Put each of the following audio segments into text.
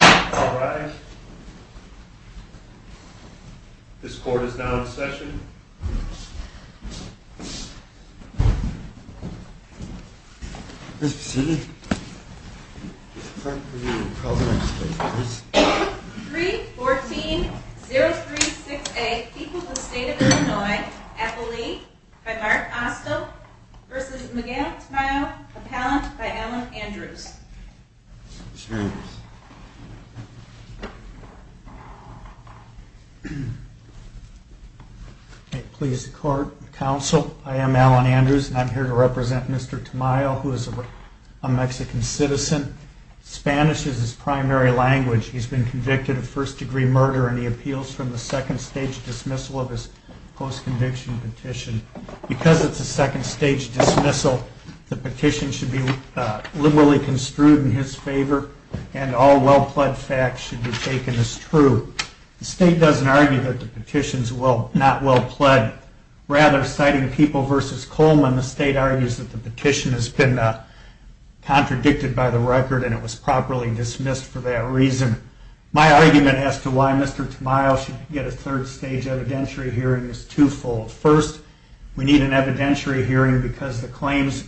All rise. This court is now in session. 3-14-036-A. People of the State of Illinois. Appellee by Mark Asto v. Miguel Tamayo. Appellant by Alan Andrews. I am Alan Andrews and I am here to represent Mr. Tamayo who is a Mexican citizen. Spanish is his primary language. He has been convicted of first-degree murder and he appeals from the second-stage dismissal of his post-conviction petition. Because it is a second-stage dismissal, the petition should be liberally construed in his favor and all well-pled facts should be taken as true. The state does not argue that the petition is not well-pled. Rather, citing People v. Coleman, the state argues that the petition has been contradicted by the record and it was properly dismissed for that reason. My argument as to why Mr. Tamayo should get a third-stage evidentiary hearing is twofold. First, we need an evidentiary hearing because the claims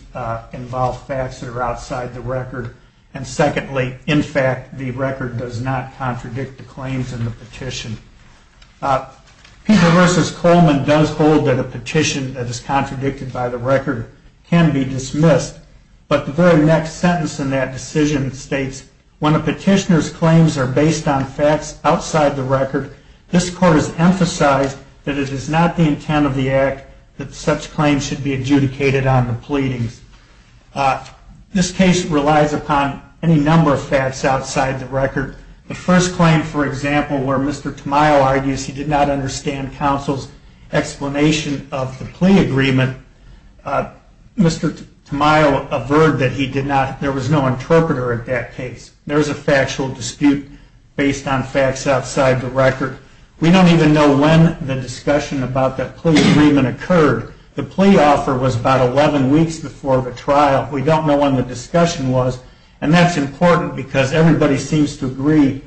involve facts that are outside the record. And secondly, in fact, the record does not contradict the claims in the petition. People v. Coleman does hold that a petition that is contradicted by the record can be dismissed, but the very next sentence in that decision states, When a petitioner's claims are based on facts outside the record, this Court has emphasized that it is not the intent of the Act that such claims should be adjudicated on the pleadings. This case relies upon any number of facts outside the record. The first claim, for example, where Mr. Tamayo argues he did not understand counsel's explanation of the plea agreement, Mr. Tamayo averred that there was no interpreter at that case. There is a factual dispute based on facts outside the record. We don't even know when the discussion about that plea agreement occurred. The plea offer was about 11 weeks before the trial. We don't know when the discussion was, and that's important because everybody seems to agree.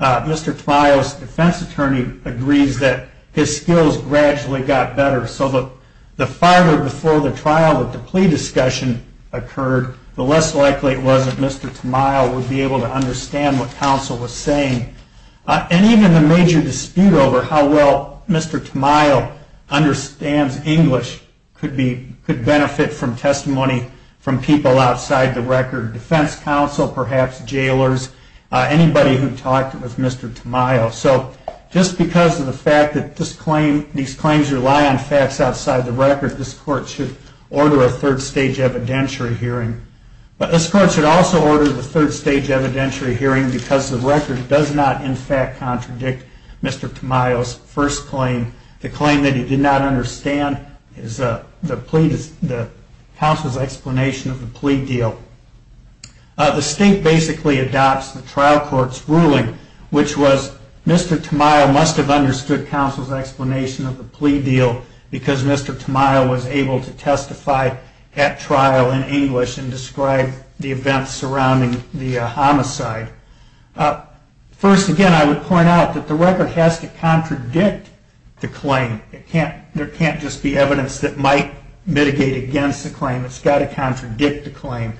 Mr. Tamayo's defense attorney agrees that his skills gradually got better, so the farther before the trial that the plea discussion occurred, the less likely it was that Mr. Tamayo would be able to understand what counsel was saying. And even the major dispute over how well Mr. Tamayo understands English could benefit from testimony from people outside the record. Defense counsel, perhaps jailers, anybody who talked with Mr. Tamayo. So just because these claims rely on facts outside the record, this Court should order a third stage evidentiary hearing. But this Court should also order the third stage evidentiary hearing because the record does not in fact contradict Mr. Tamayo's first claim. The claim that he did not understand is the counsel's explanation of the plea deal. The state basically adopts the trial court's ruling, which was Mr. Tamayo must have understood counsel's explanation of the plea deal because Mr. Tamayo was able to testify at trial in English and describe the events surrounding the homicide. First again, I would point out that the record has to contradict the claim. There can't just be evidence that might mitigate against the claim. It's got to contradict the claim.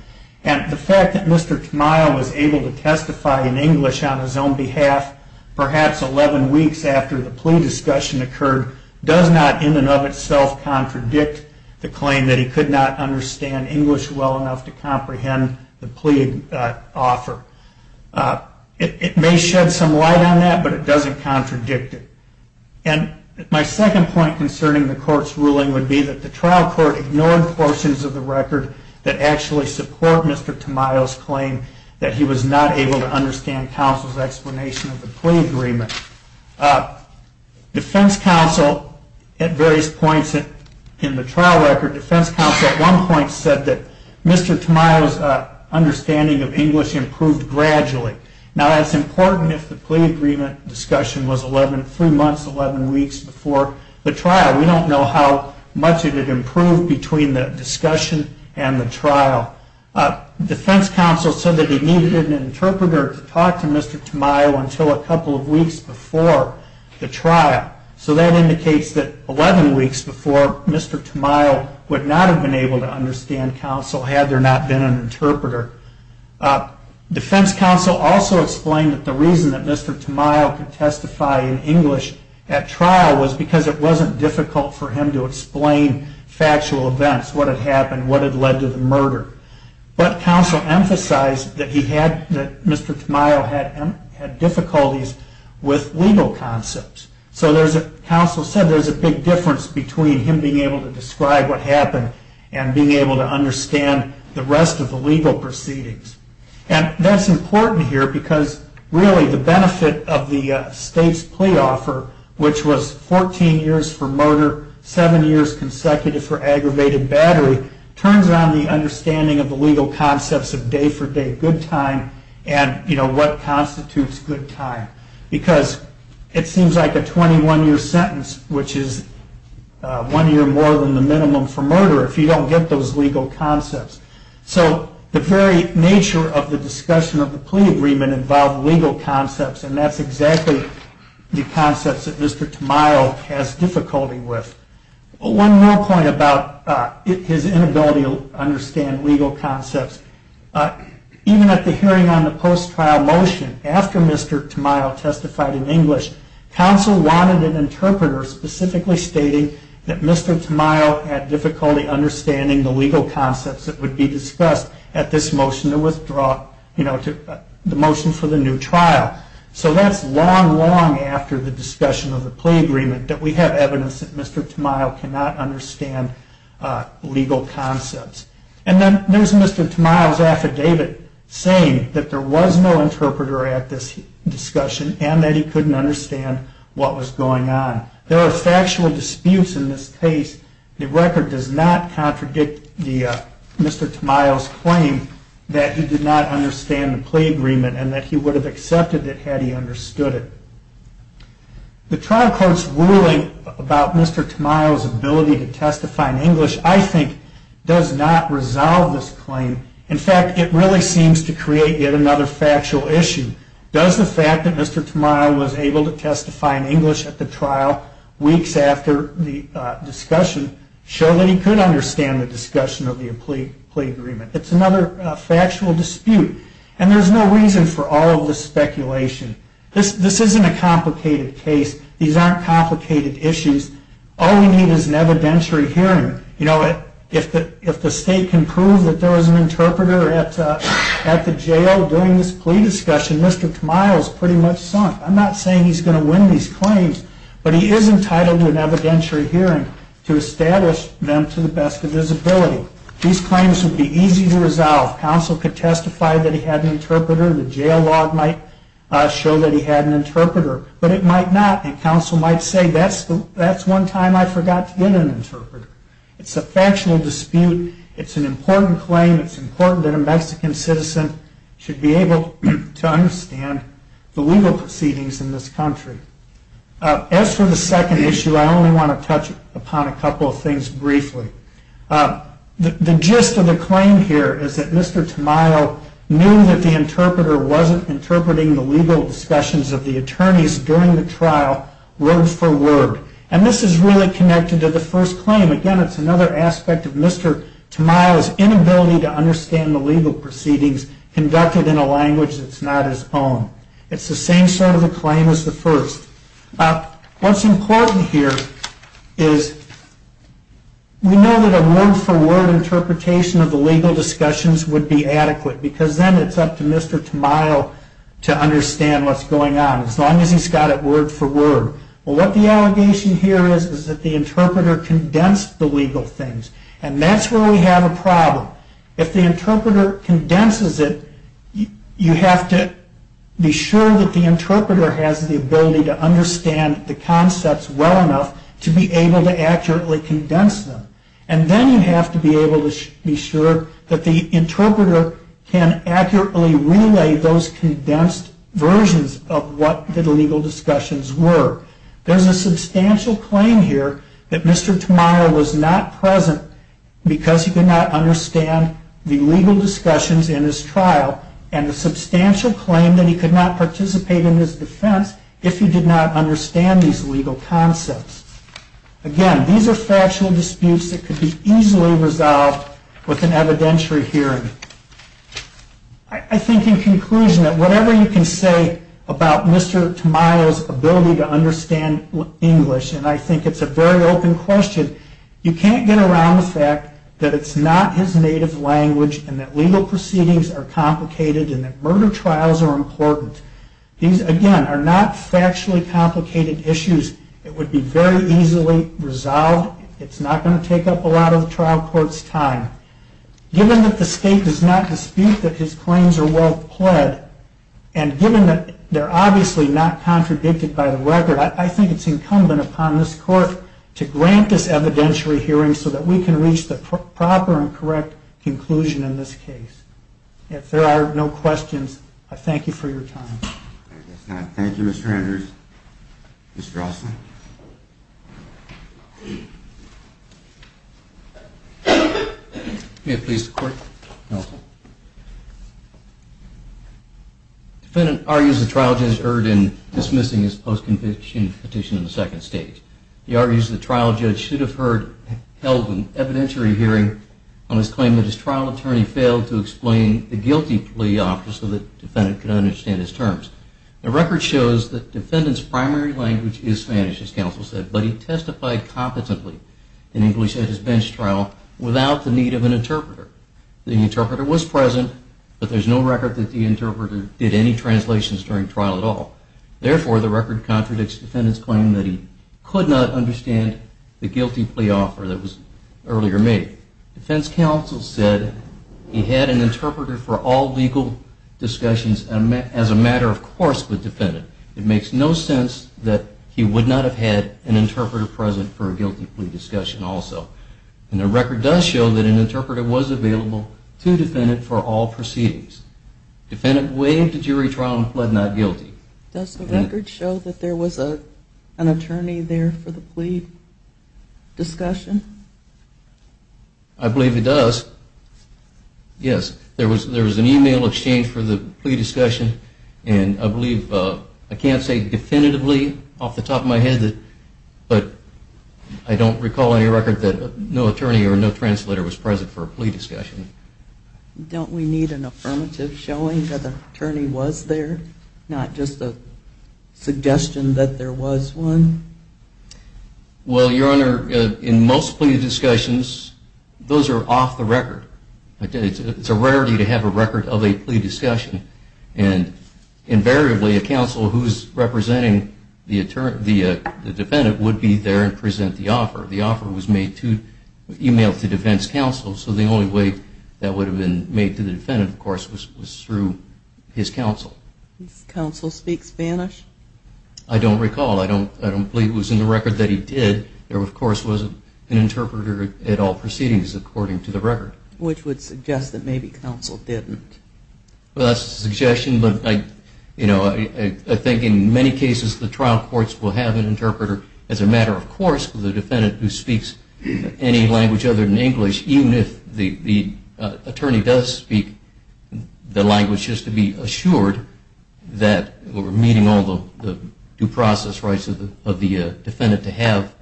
And the fact that Mr. Tamayo was able to testify in English on his own behalf, perhaps 11 weeks after the plea discussion occurred, does not in and of itself contradict the claim that he could not understand English well enough to comprehend the plea offer. It may shed some light on that, but it doesn't contradict it. And my second point concerning the Court's ruling would be that the trial court ignored portions of the record that actually support Mr. Tamayo's claim that he was not able to understand counsel's explanation of the plea agreement. Defense counsel, at various points in the trial record, defense counsel at one point said that Mr. Tamayo's understanding of English improved gradually. Now that's important if the plea agreement discussion was three months, 11 weeks before the trial. We don't know how much it had improved between the discussion and the trial. Defense counsel said that he needed an interpreter to talk to Mr. Tamayo until a couple of weeks before the trial. So that indicates that 11 weeks before, Mr. Tamayo would not have been able to understand counsel had there not been an interpreter. Defense counsel also explained that the reason that Mr. Tamayo could testify in English at trial was because it wasn't difficult for him to explain factual events, what had happened, what had led to the murder. But counsel emphasized that Mr. Tamayo had difficulties with legal concepts. So counsel said there's a big difference between him being able to describe what happened and being able to understand the rest of the legal proceedings. And that's important here because really the benefit of the state's plea offer, which was 14 years for murder, 7 years consecutive for aggravated battery, turns on the understanding of the legal concepts of day for day good time and what constitutes good time. Because it seems like a 21-year sentence, which is one year more than the minimum for murder, if you don't get those legal concepts. So the very nature of the discussion of the plea agreement involved legal concepts, and that's exactly the concepts that Mr. Tamayo has difficulty with. One more point about his inability to understand legal concepts. Even at the hearing on the post-trial motion, after Mr. Tamayo testified in English, counsel wanted an interpreter specifically stating that Mr. Tamayo had difficulty understanding the legal concepts that would be discussed at this motion for the new trial. So that's long, long after the discussion of the plea agreement that we have evidence that Mr. Tamayo cannot understand legal concepts. And then there's Mr. Tamayo's affidavit saying that there was no interpreter at this discussion and that he couldn't understand what was going on. There are factual disputes in this case. The record does not contradict Mr. Tamayo's claim that he did not understand the plea agreement and that he would have accepted it had he understood it. The trial court's ruling about Mr. Tamayo's ability to testify in English, I think, does not resolve this claim. In fact, it really seems to create yet another factual issue. Does the fact that Mr. Tamayo was able to testify in English at the trial weeks after the discussion show that he could understand the discussion of the plea agreement? It's another factual dispute. And there's no reason for all of this speculation. This isn't a complicated case. These aren't complicated issues. All we need is an evidentiary hearing. If the state can prove that there was an interpreter at the jail during this plea discussion, Mr. Tamayo is pretty much sunk. I'm not saying he's going to win these claims, but he is entitled to an evidentiary hearing to establish them to the best of his ability. These claims would be easy to resolve. Counsel could testify that he had an interpreter. The jail log might show that he had an interpreter. But it might not. And counsel might say, that's one time I forgot to get an interpreter. It's a factual dispute. It's an important claim. It's important that a Mexican citizen should be able to understand the legal proceedings in this country. As for the second issue, I only want to touch upon a couple of things briefly. The gist of the claim here is that Mr. Tamayo knew that the interpreter wasn't interpreting the legal discussions of the attorneys during the trial word for word. And this is really connected to the first claim. Again, it's another aspect of Mr. Tamayo's inability to understand the legal proceedings conducted in a language that's not his own. It's the same sort of a claim as the first. What's important here is we know that a word for word interpretation of the legal discussions would be adequate. Because then it's up to Mr. Tamayo to understand what's going on. As long as he's got it word for word. What the allegation here is, is that the interpreter condensed the legal things. And that's where we have a problem. If the interpreter condenses it, you have to be sure that the interpreter has the ability to understand the concepts well enough to be able to accurately condense them. And then you have to be able to be sure that the interpreter can accurately relay those condensed versions of what the legal discussions were. There's a substantial claim here that Mr. Tamayo was not present because he could not understand the legal discussions in his trial. And a substantial claim that he could not participate in his defense if he did not understand these legal concepts. Again, these are factual disputes that could be easily resolved with an evidentiary hearing. I think in conclusion that whatever you can say about Mr. Tamayo's ability to understand English, and I think it's a very open question, you can't get around the fact that it's not his native language and that legal proceedings are complicated and that murder trials are important. These, again, are not factually complicated issues. It would be very easily resolved. It's not going to take up a lot of the trial court's time. Given that the state does not dispute that his claims are well pled, and given that they're obviously not contradicted by the record, I think it's incumbent upon this court to grant this evidentiary hearing so that we can reach the proper and correct conclusion in this case. If there are no questions, I thank you for your time. Thank you, Mr. Andrews. Mr. Alston. May it please the court, counsel. The defendant argues the trial judge erred in dismissing his post-conviction petition in the second stage. He argues the trial judge should have held an evidentiary hearing on his claim that his trial attorney failed to explain the guilty plea offer so that the defendant could understand his terms. The record shows that the defendant's primary language is Spanish, as counsel said, but he testified competently in English at his bench trial without the need of an interpreter. The interpreter was present, but there's no record that the interpreter did any translations during trial at all. Therefore, the record contradicts the defendant's claim that he could not understand the guilty plea offer that was earlier made. Defense counsel said he had an interpreter for all legal discussions as a matter of course with the defendant. It makes no sense that he would not have had an interpreter present for a guilty plea discussion also. And the record does show that an interpreter was available to the defendant for all proceedings. The defendant waived the jury trial and pled not guilty. Does the record show that there was an attorney there for the plea discussion? I believe it does. Yes, there was an email exchange for the plea discussion, and I believe, I can't say definitively off the top of my head, but I don't recall any record that no attorney or no translator was present for a plea discussion. Don't we need an affirmative showing that an attorney was there, not just a suggestion that there was one? Well, Your Honor, in most plea discussions, those are off the record. It's a rarity to have a record of a plea discussion. And invariably, a counsel who's representing the defendant would be there and present the offer. The offer was made to email to defense counsel, so the only way that would have been made to the defendant, of course, was through his counsel. Does counsel speak Spanish? I don't recall. I don't believe it was in the record that he did. There, of course, was an interpreter at all proceedings according to the record. Which would suggest that maybe counsel didn't. Well, that's a suggestion, but I think in many cases the trial courts will have an interpreter as a matter of course, with a defendant who speaks any language other than English, even if the attorney does speak the language, just to be assured that we're meeting all the due process rights of the defendant to have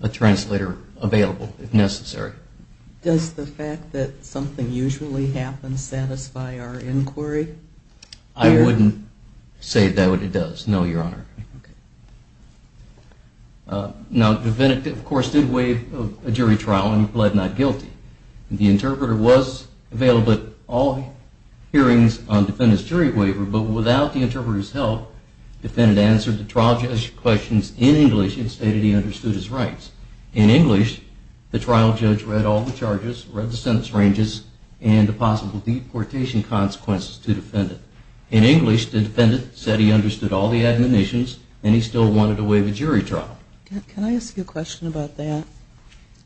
a translator available if necessary. Does the fact that something usually happens satisfy our inquiry? I wouldn't say that it does, no, Your Honor. Okay. Now, the defendant, of course, did waive a jury trial and pled not guilty. The interpreter was available at all hearings on the defendant's jury waiver, but without the interpreter's help, the defendant answered the trial judge's questions in English and stated he understood his rights. In English, the trial judge read all the charges, read the sentence ranges, and the possible deportation consequences to the defendant. In English, the defendant said he understood all the admonitions, and he still wanted to waive a jury trial. Can I ask you a question about that?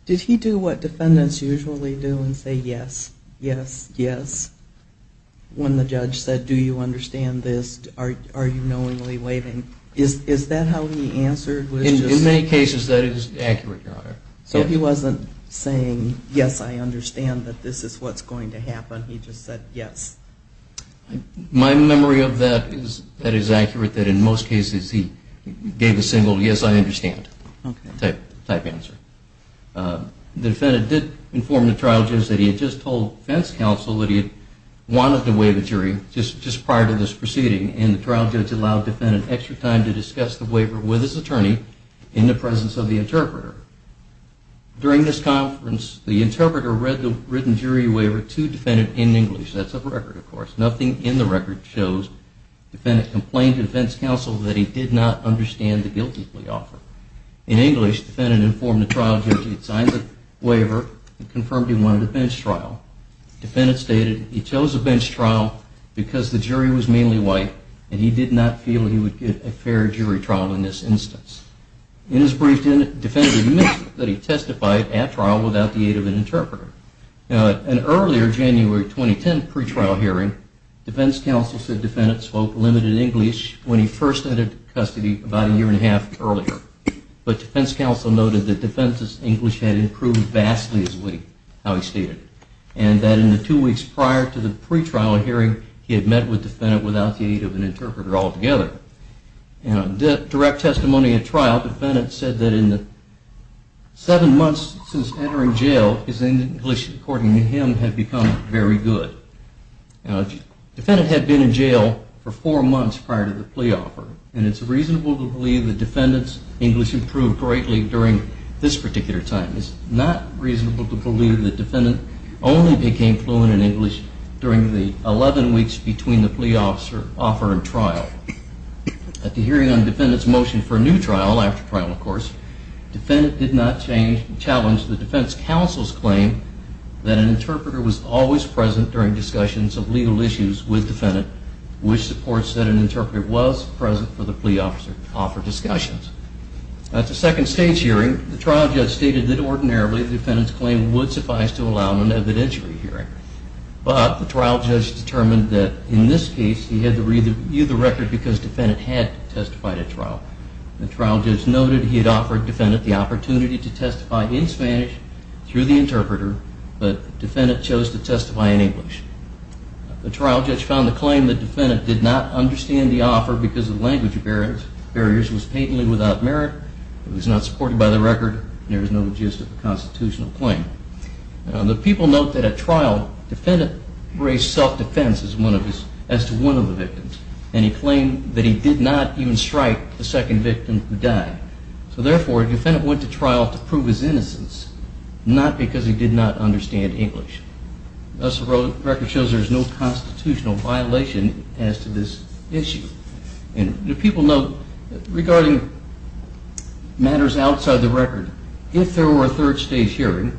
Did he do what defendants usually do and say, yes, yes, yes, when the judge said, do you understand this? Are you knowingly waiving? Is that how he answered? In many cases, that is accurate, Your Honor. So he wasn't saying, yes, I understand that this is what's going to happen. He just said, yes. My memory of that is that it is accurate that in most cases he gave a single, yes, I understand type answer. The defendant did inform the trial judge that he had just told defense counsel that he wanted to waive a jury just prior to this proceeding, and the trial judge allowed the defendant extra time to discuss the waiver with his attorney in the presence of the interpreter. During this conference, the interpreter read the written jury waiver to the defendant in English. That's a record, of course. Nothing in the record shows the defendant complained to defense counsel that he did not understand the guilty plea offer. In English, the defendant informed the trial judge he had signed the waiver and confirmed he wanted a bench trial. The defendant stated he chose a bench trial because the jury was mainly white, and he did not feel he would get a fair jury trial in this instance. In his brief, the defendant admitted that he testified at trial without the aid of an interpreter. In an earlier January 2010 pre-trial hearing, defense counsel said the defendant spoke limited English when he first entered custody about a year and a half earlier. But defense counsel noted that the defendant's English had improved vastly as a witness, how he stated, and that in the two weeks prior to the pre-trial hearing, he had met with the defendant without the aid of an interpreter altogether. In a direct testimony at trial, the defendant said that in the seven months since entering jail, his English, according to him, had become very good. The defendant had been in jail for four months prior to the plea offer, and it's reasonable to believe the defendant's English improved greatly during this particular time. It's not reasonable to believe the defendant only became fluent in English during the 11 weeks between the plea offer and trial. At the hearing on the defendant's motion for a new trial, after trial of course, the defendant did not change and challenge the defense counsel's claim that an interpreter was always present during discussions of legal issues with the defendant, which supports that an interpreter was present for the plea offer discussions. At the second stage hearing, the trial judge stated that ordinarily the defendant's claim would suffice to allow an evidentiary hearing. But the trial judge determined that in this case he had to review the record because the defendant had testified at trial. The trial judge noted he had offered the defendant the opportunity to testify in Spanish through the interpreter, but the defendant chose to testify in English. The trial judge found the claim that the defendant did not understand the offer because of language barriers was patently without merit, it was not supported by the record, and there was no logistical constitutional claim. The people note that at trial, the defendant raised self-defense as to one of the victims, and he claimed that he did not even strike the second victim who died. So therefore, the defendant went to trial to prove his innocence, not because he did not understand English. Thus, the record shows there is no constitutional violation as to this issue. The people note regarding matters outside the record, if there were a third stage hearing,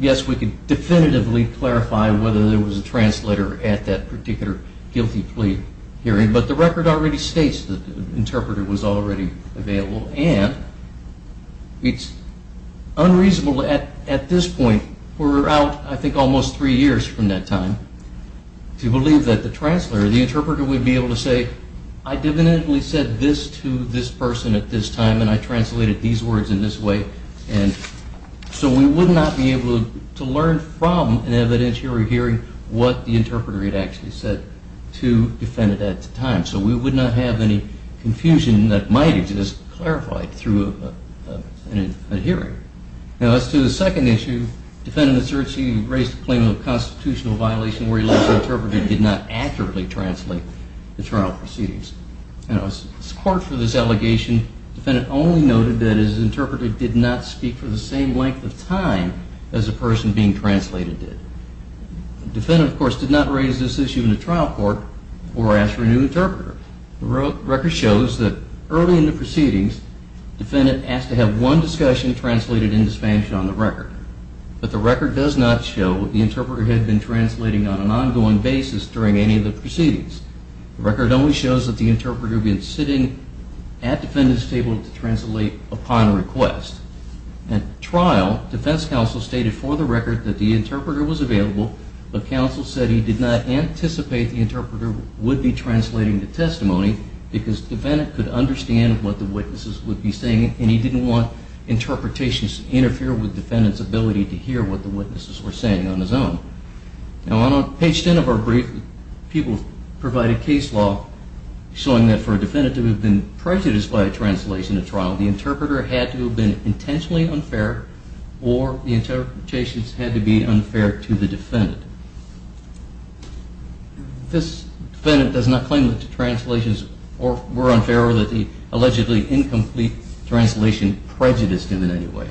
yes, we could definitively clarify whether there was a translator at that particular guilty plea hearing, but the record already states that the interpreter was already available, and it's unreasonable at this point, we're out I think almost three years from that time, to believe that the translator, the interpreter would be able to say, I definitively said this to this person at this time, and I translated these words in this way, and so we would not be able to learn from an evidentiary hearing what the interpreter had actually said to defendant at the time. So we would not have any confusion that might have just clarified through a hearing. Now, as to the second issue, defendant asserts he raised the claim of constitutional violation where he left the interpreter did not accurately translate the trial proceedings. Now, as court for this allegation, defendant only noted that his interpreter did not speak for the same length of time as the person being translated did. Defendant, of course, did not raise this issue in the trial court or ask for a new interpreter. The record shows that early in the proceedings, defendant asked to have one discussion translated into Spanish on the record, but the record does not show that the interpreter had been translating on an ongoing basis during any of the proceedings. The record only shows that the interpreter had been sitting at defendant's table to translate upon request. At trial, defense counsel stated for the record that the interpreter was available, but counsel said he did not anticipate the interpreter would be translating the testimony because defendant could understand what the witnesses would be saying and he didn't want interpretations to interfere with defendant's ability to hear what the witnesses were saying on his own. Now, on page 10 of our brief, people provided case law showing that for a defendant to have been prejudiced by a translation at trial, the interpreter had to have been intentionally unfair or the interpretations had to be unfair to the defendant. This defendant does not claim that the translations were unfair or that the allegedly incomplete translation prejudiced him in any way.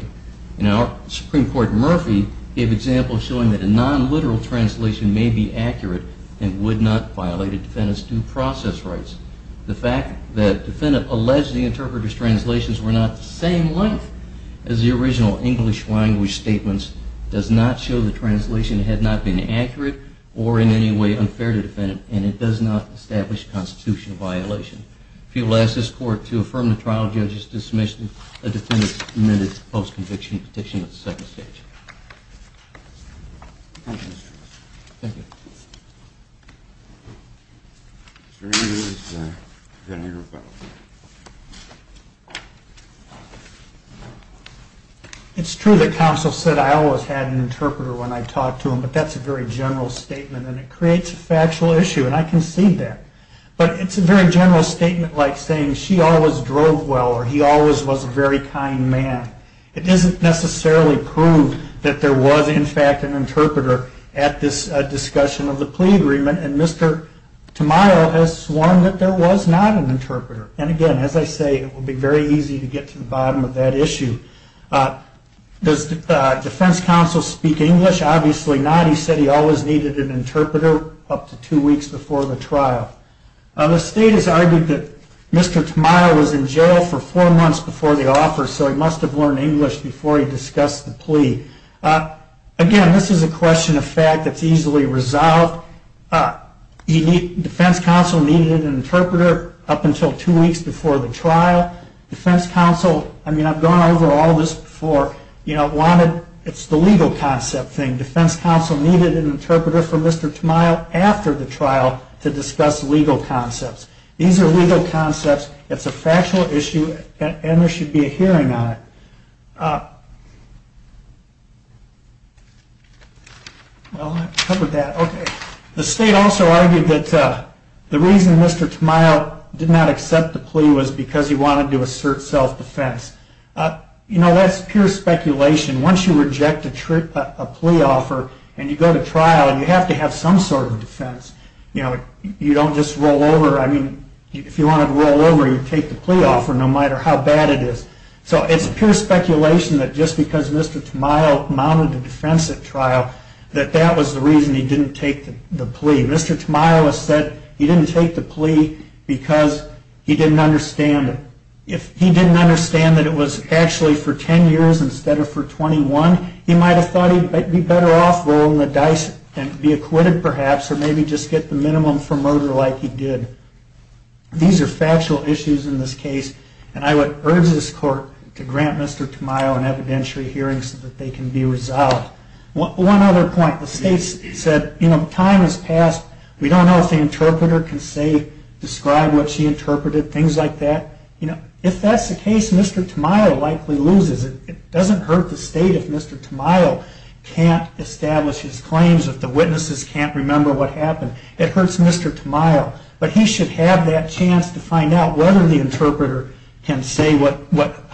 Now, Supreme Court Murphy gave examples showing that a non-literal translation may be accurate and would not violate a defendant's due process rights. The fact that the defendant alleged the interpreter's translations were not the same length as the original English language statements does not show the translation had not been accurate or in any way unfair to the defendant and it does not establish constitutional violation. People ask this Court to affirm the trial judge's dismissal of the defendant's admitted post-conviction petition at the second stage. Thank you. It's true that counsel said I always had an interpreter when I talked to him, but that's a very general statement and it creates a factual issue and I concede that. But it's a very general statement like saying she always drove well or he always was a very kind man. It doesn't necessarily prove that there was in fact an interpreter at this discussion of the plea agreement and Mr. Tamayo has sworn that there was not an interpreter. And again, as I say, it will be very easy to get to the bottom of that issue. Does defense counsel speak English? Obviously not. He said he always needed an interpreter up to two weeks before the trial. The state has argued that Mr. Tamayo was in jail for four months before the offer so he must have learned English before he discussed the plea. Again, this is a question of fact that's easily resolved. Defense counsel needed an interpreter up until two weeks before the trial. I've gone over all this before. It's the legal concept thing. Defense counsel needed an interpreter for Mr. Tamayo after the trial to discuss legal concepts. These are legal concepts. It's a factual issue and there should be a hearing on it. The state also argued that the reason Mr. Tamayo did not accept the plea was because he wanted to assert self-defense. That's pure speculation. Once you reject a plea offer and you go to trial, you have to have some sort of defense. You don't just roll over. If you wanted to roll over, you'd take the plea offer no matter how bad it is. It's pure speculation that just because Mr. Tamayo mounted a defense at trial, that that was the reason he didn't take the plea. Mr. Tamayo said he didn't take the plea because he didn't understand it. If he didn't understand that it was actually for 10 years instead of for 21, he might have thought he'd be better off rolling the dice and be acquitted perhaps or maybe just get the minimum for murder like he did. These are factual issues in this case, and I would urge this court to grant Mr. Tamayo an evidentiary hearing so that they can be resolved. One other point. The state said time has passed. We don't know if the interpreter can describe what she interpreted, things like that. If that's the case, Mr. Tamayo likely loses. It doesn't hurt the state if Mr. Tamayo can't establish his claims, if the witnesses can't remember what happened. It hurts Mr. Tamayo. But he should have that chance to find out whether the interpreter can say what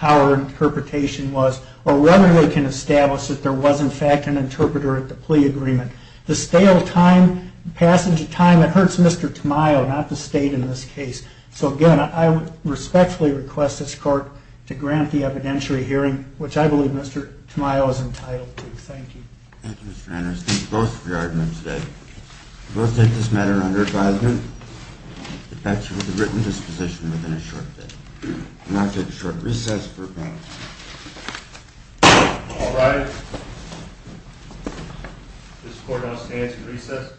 our interpretation was or whether they can establish that there was in fact an interpreter at the plea agreement. The stale passage of time, it hurts Mr. Tamayo, not the state in this case. So, again, I respectfully request this court to grant the evidentiary hearing, which I believe Mr. Tamayo is entitled to. Thank you. Thank you, Mr. Anderson. Thank you both for your arguments today. We'll take this matter under advisement. It backs you with a written disposition within a short day. We'll now take a short recess for comments. All rise. This court now stands in recess.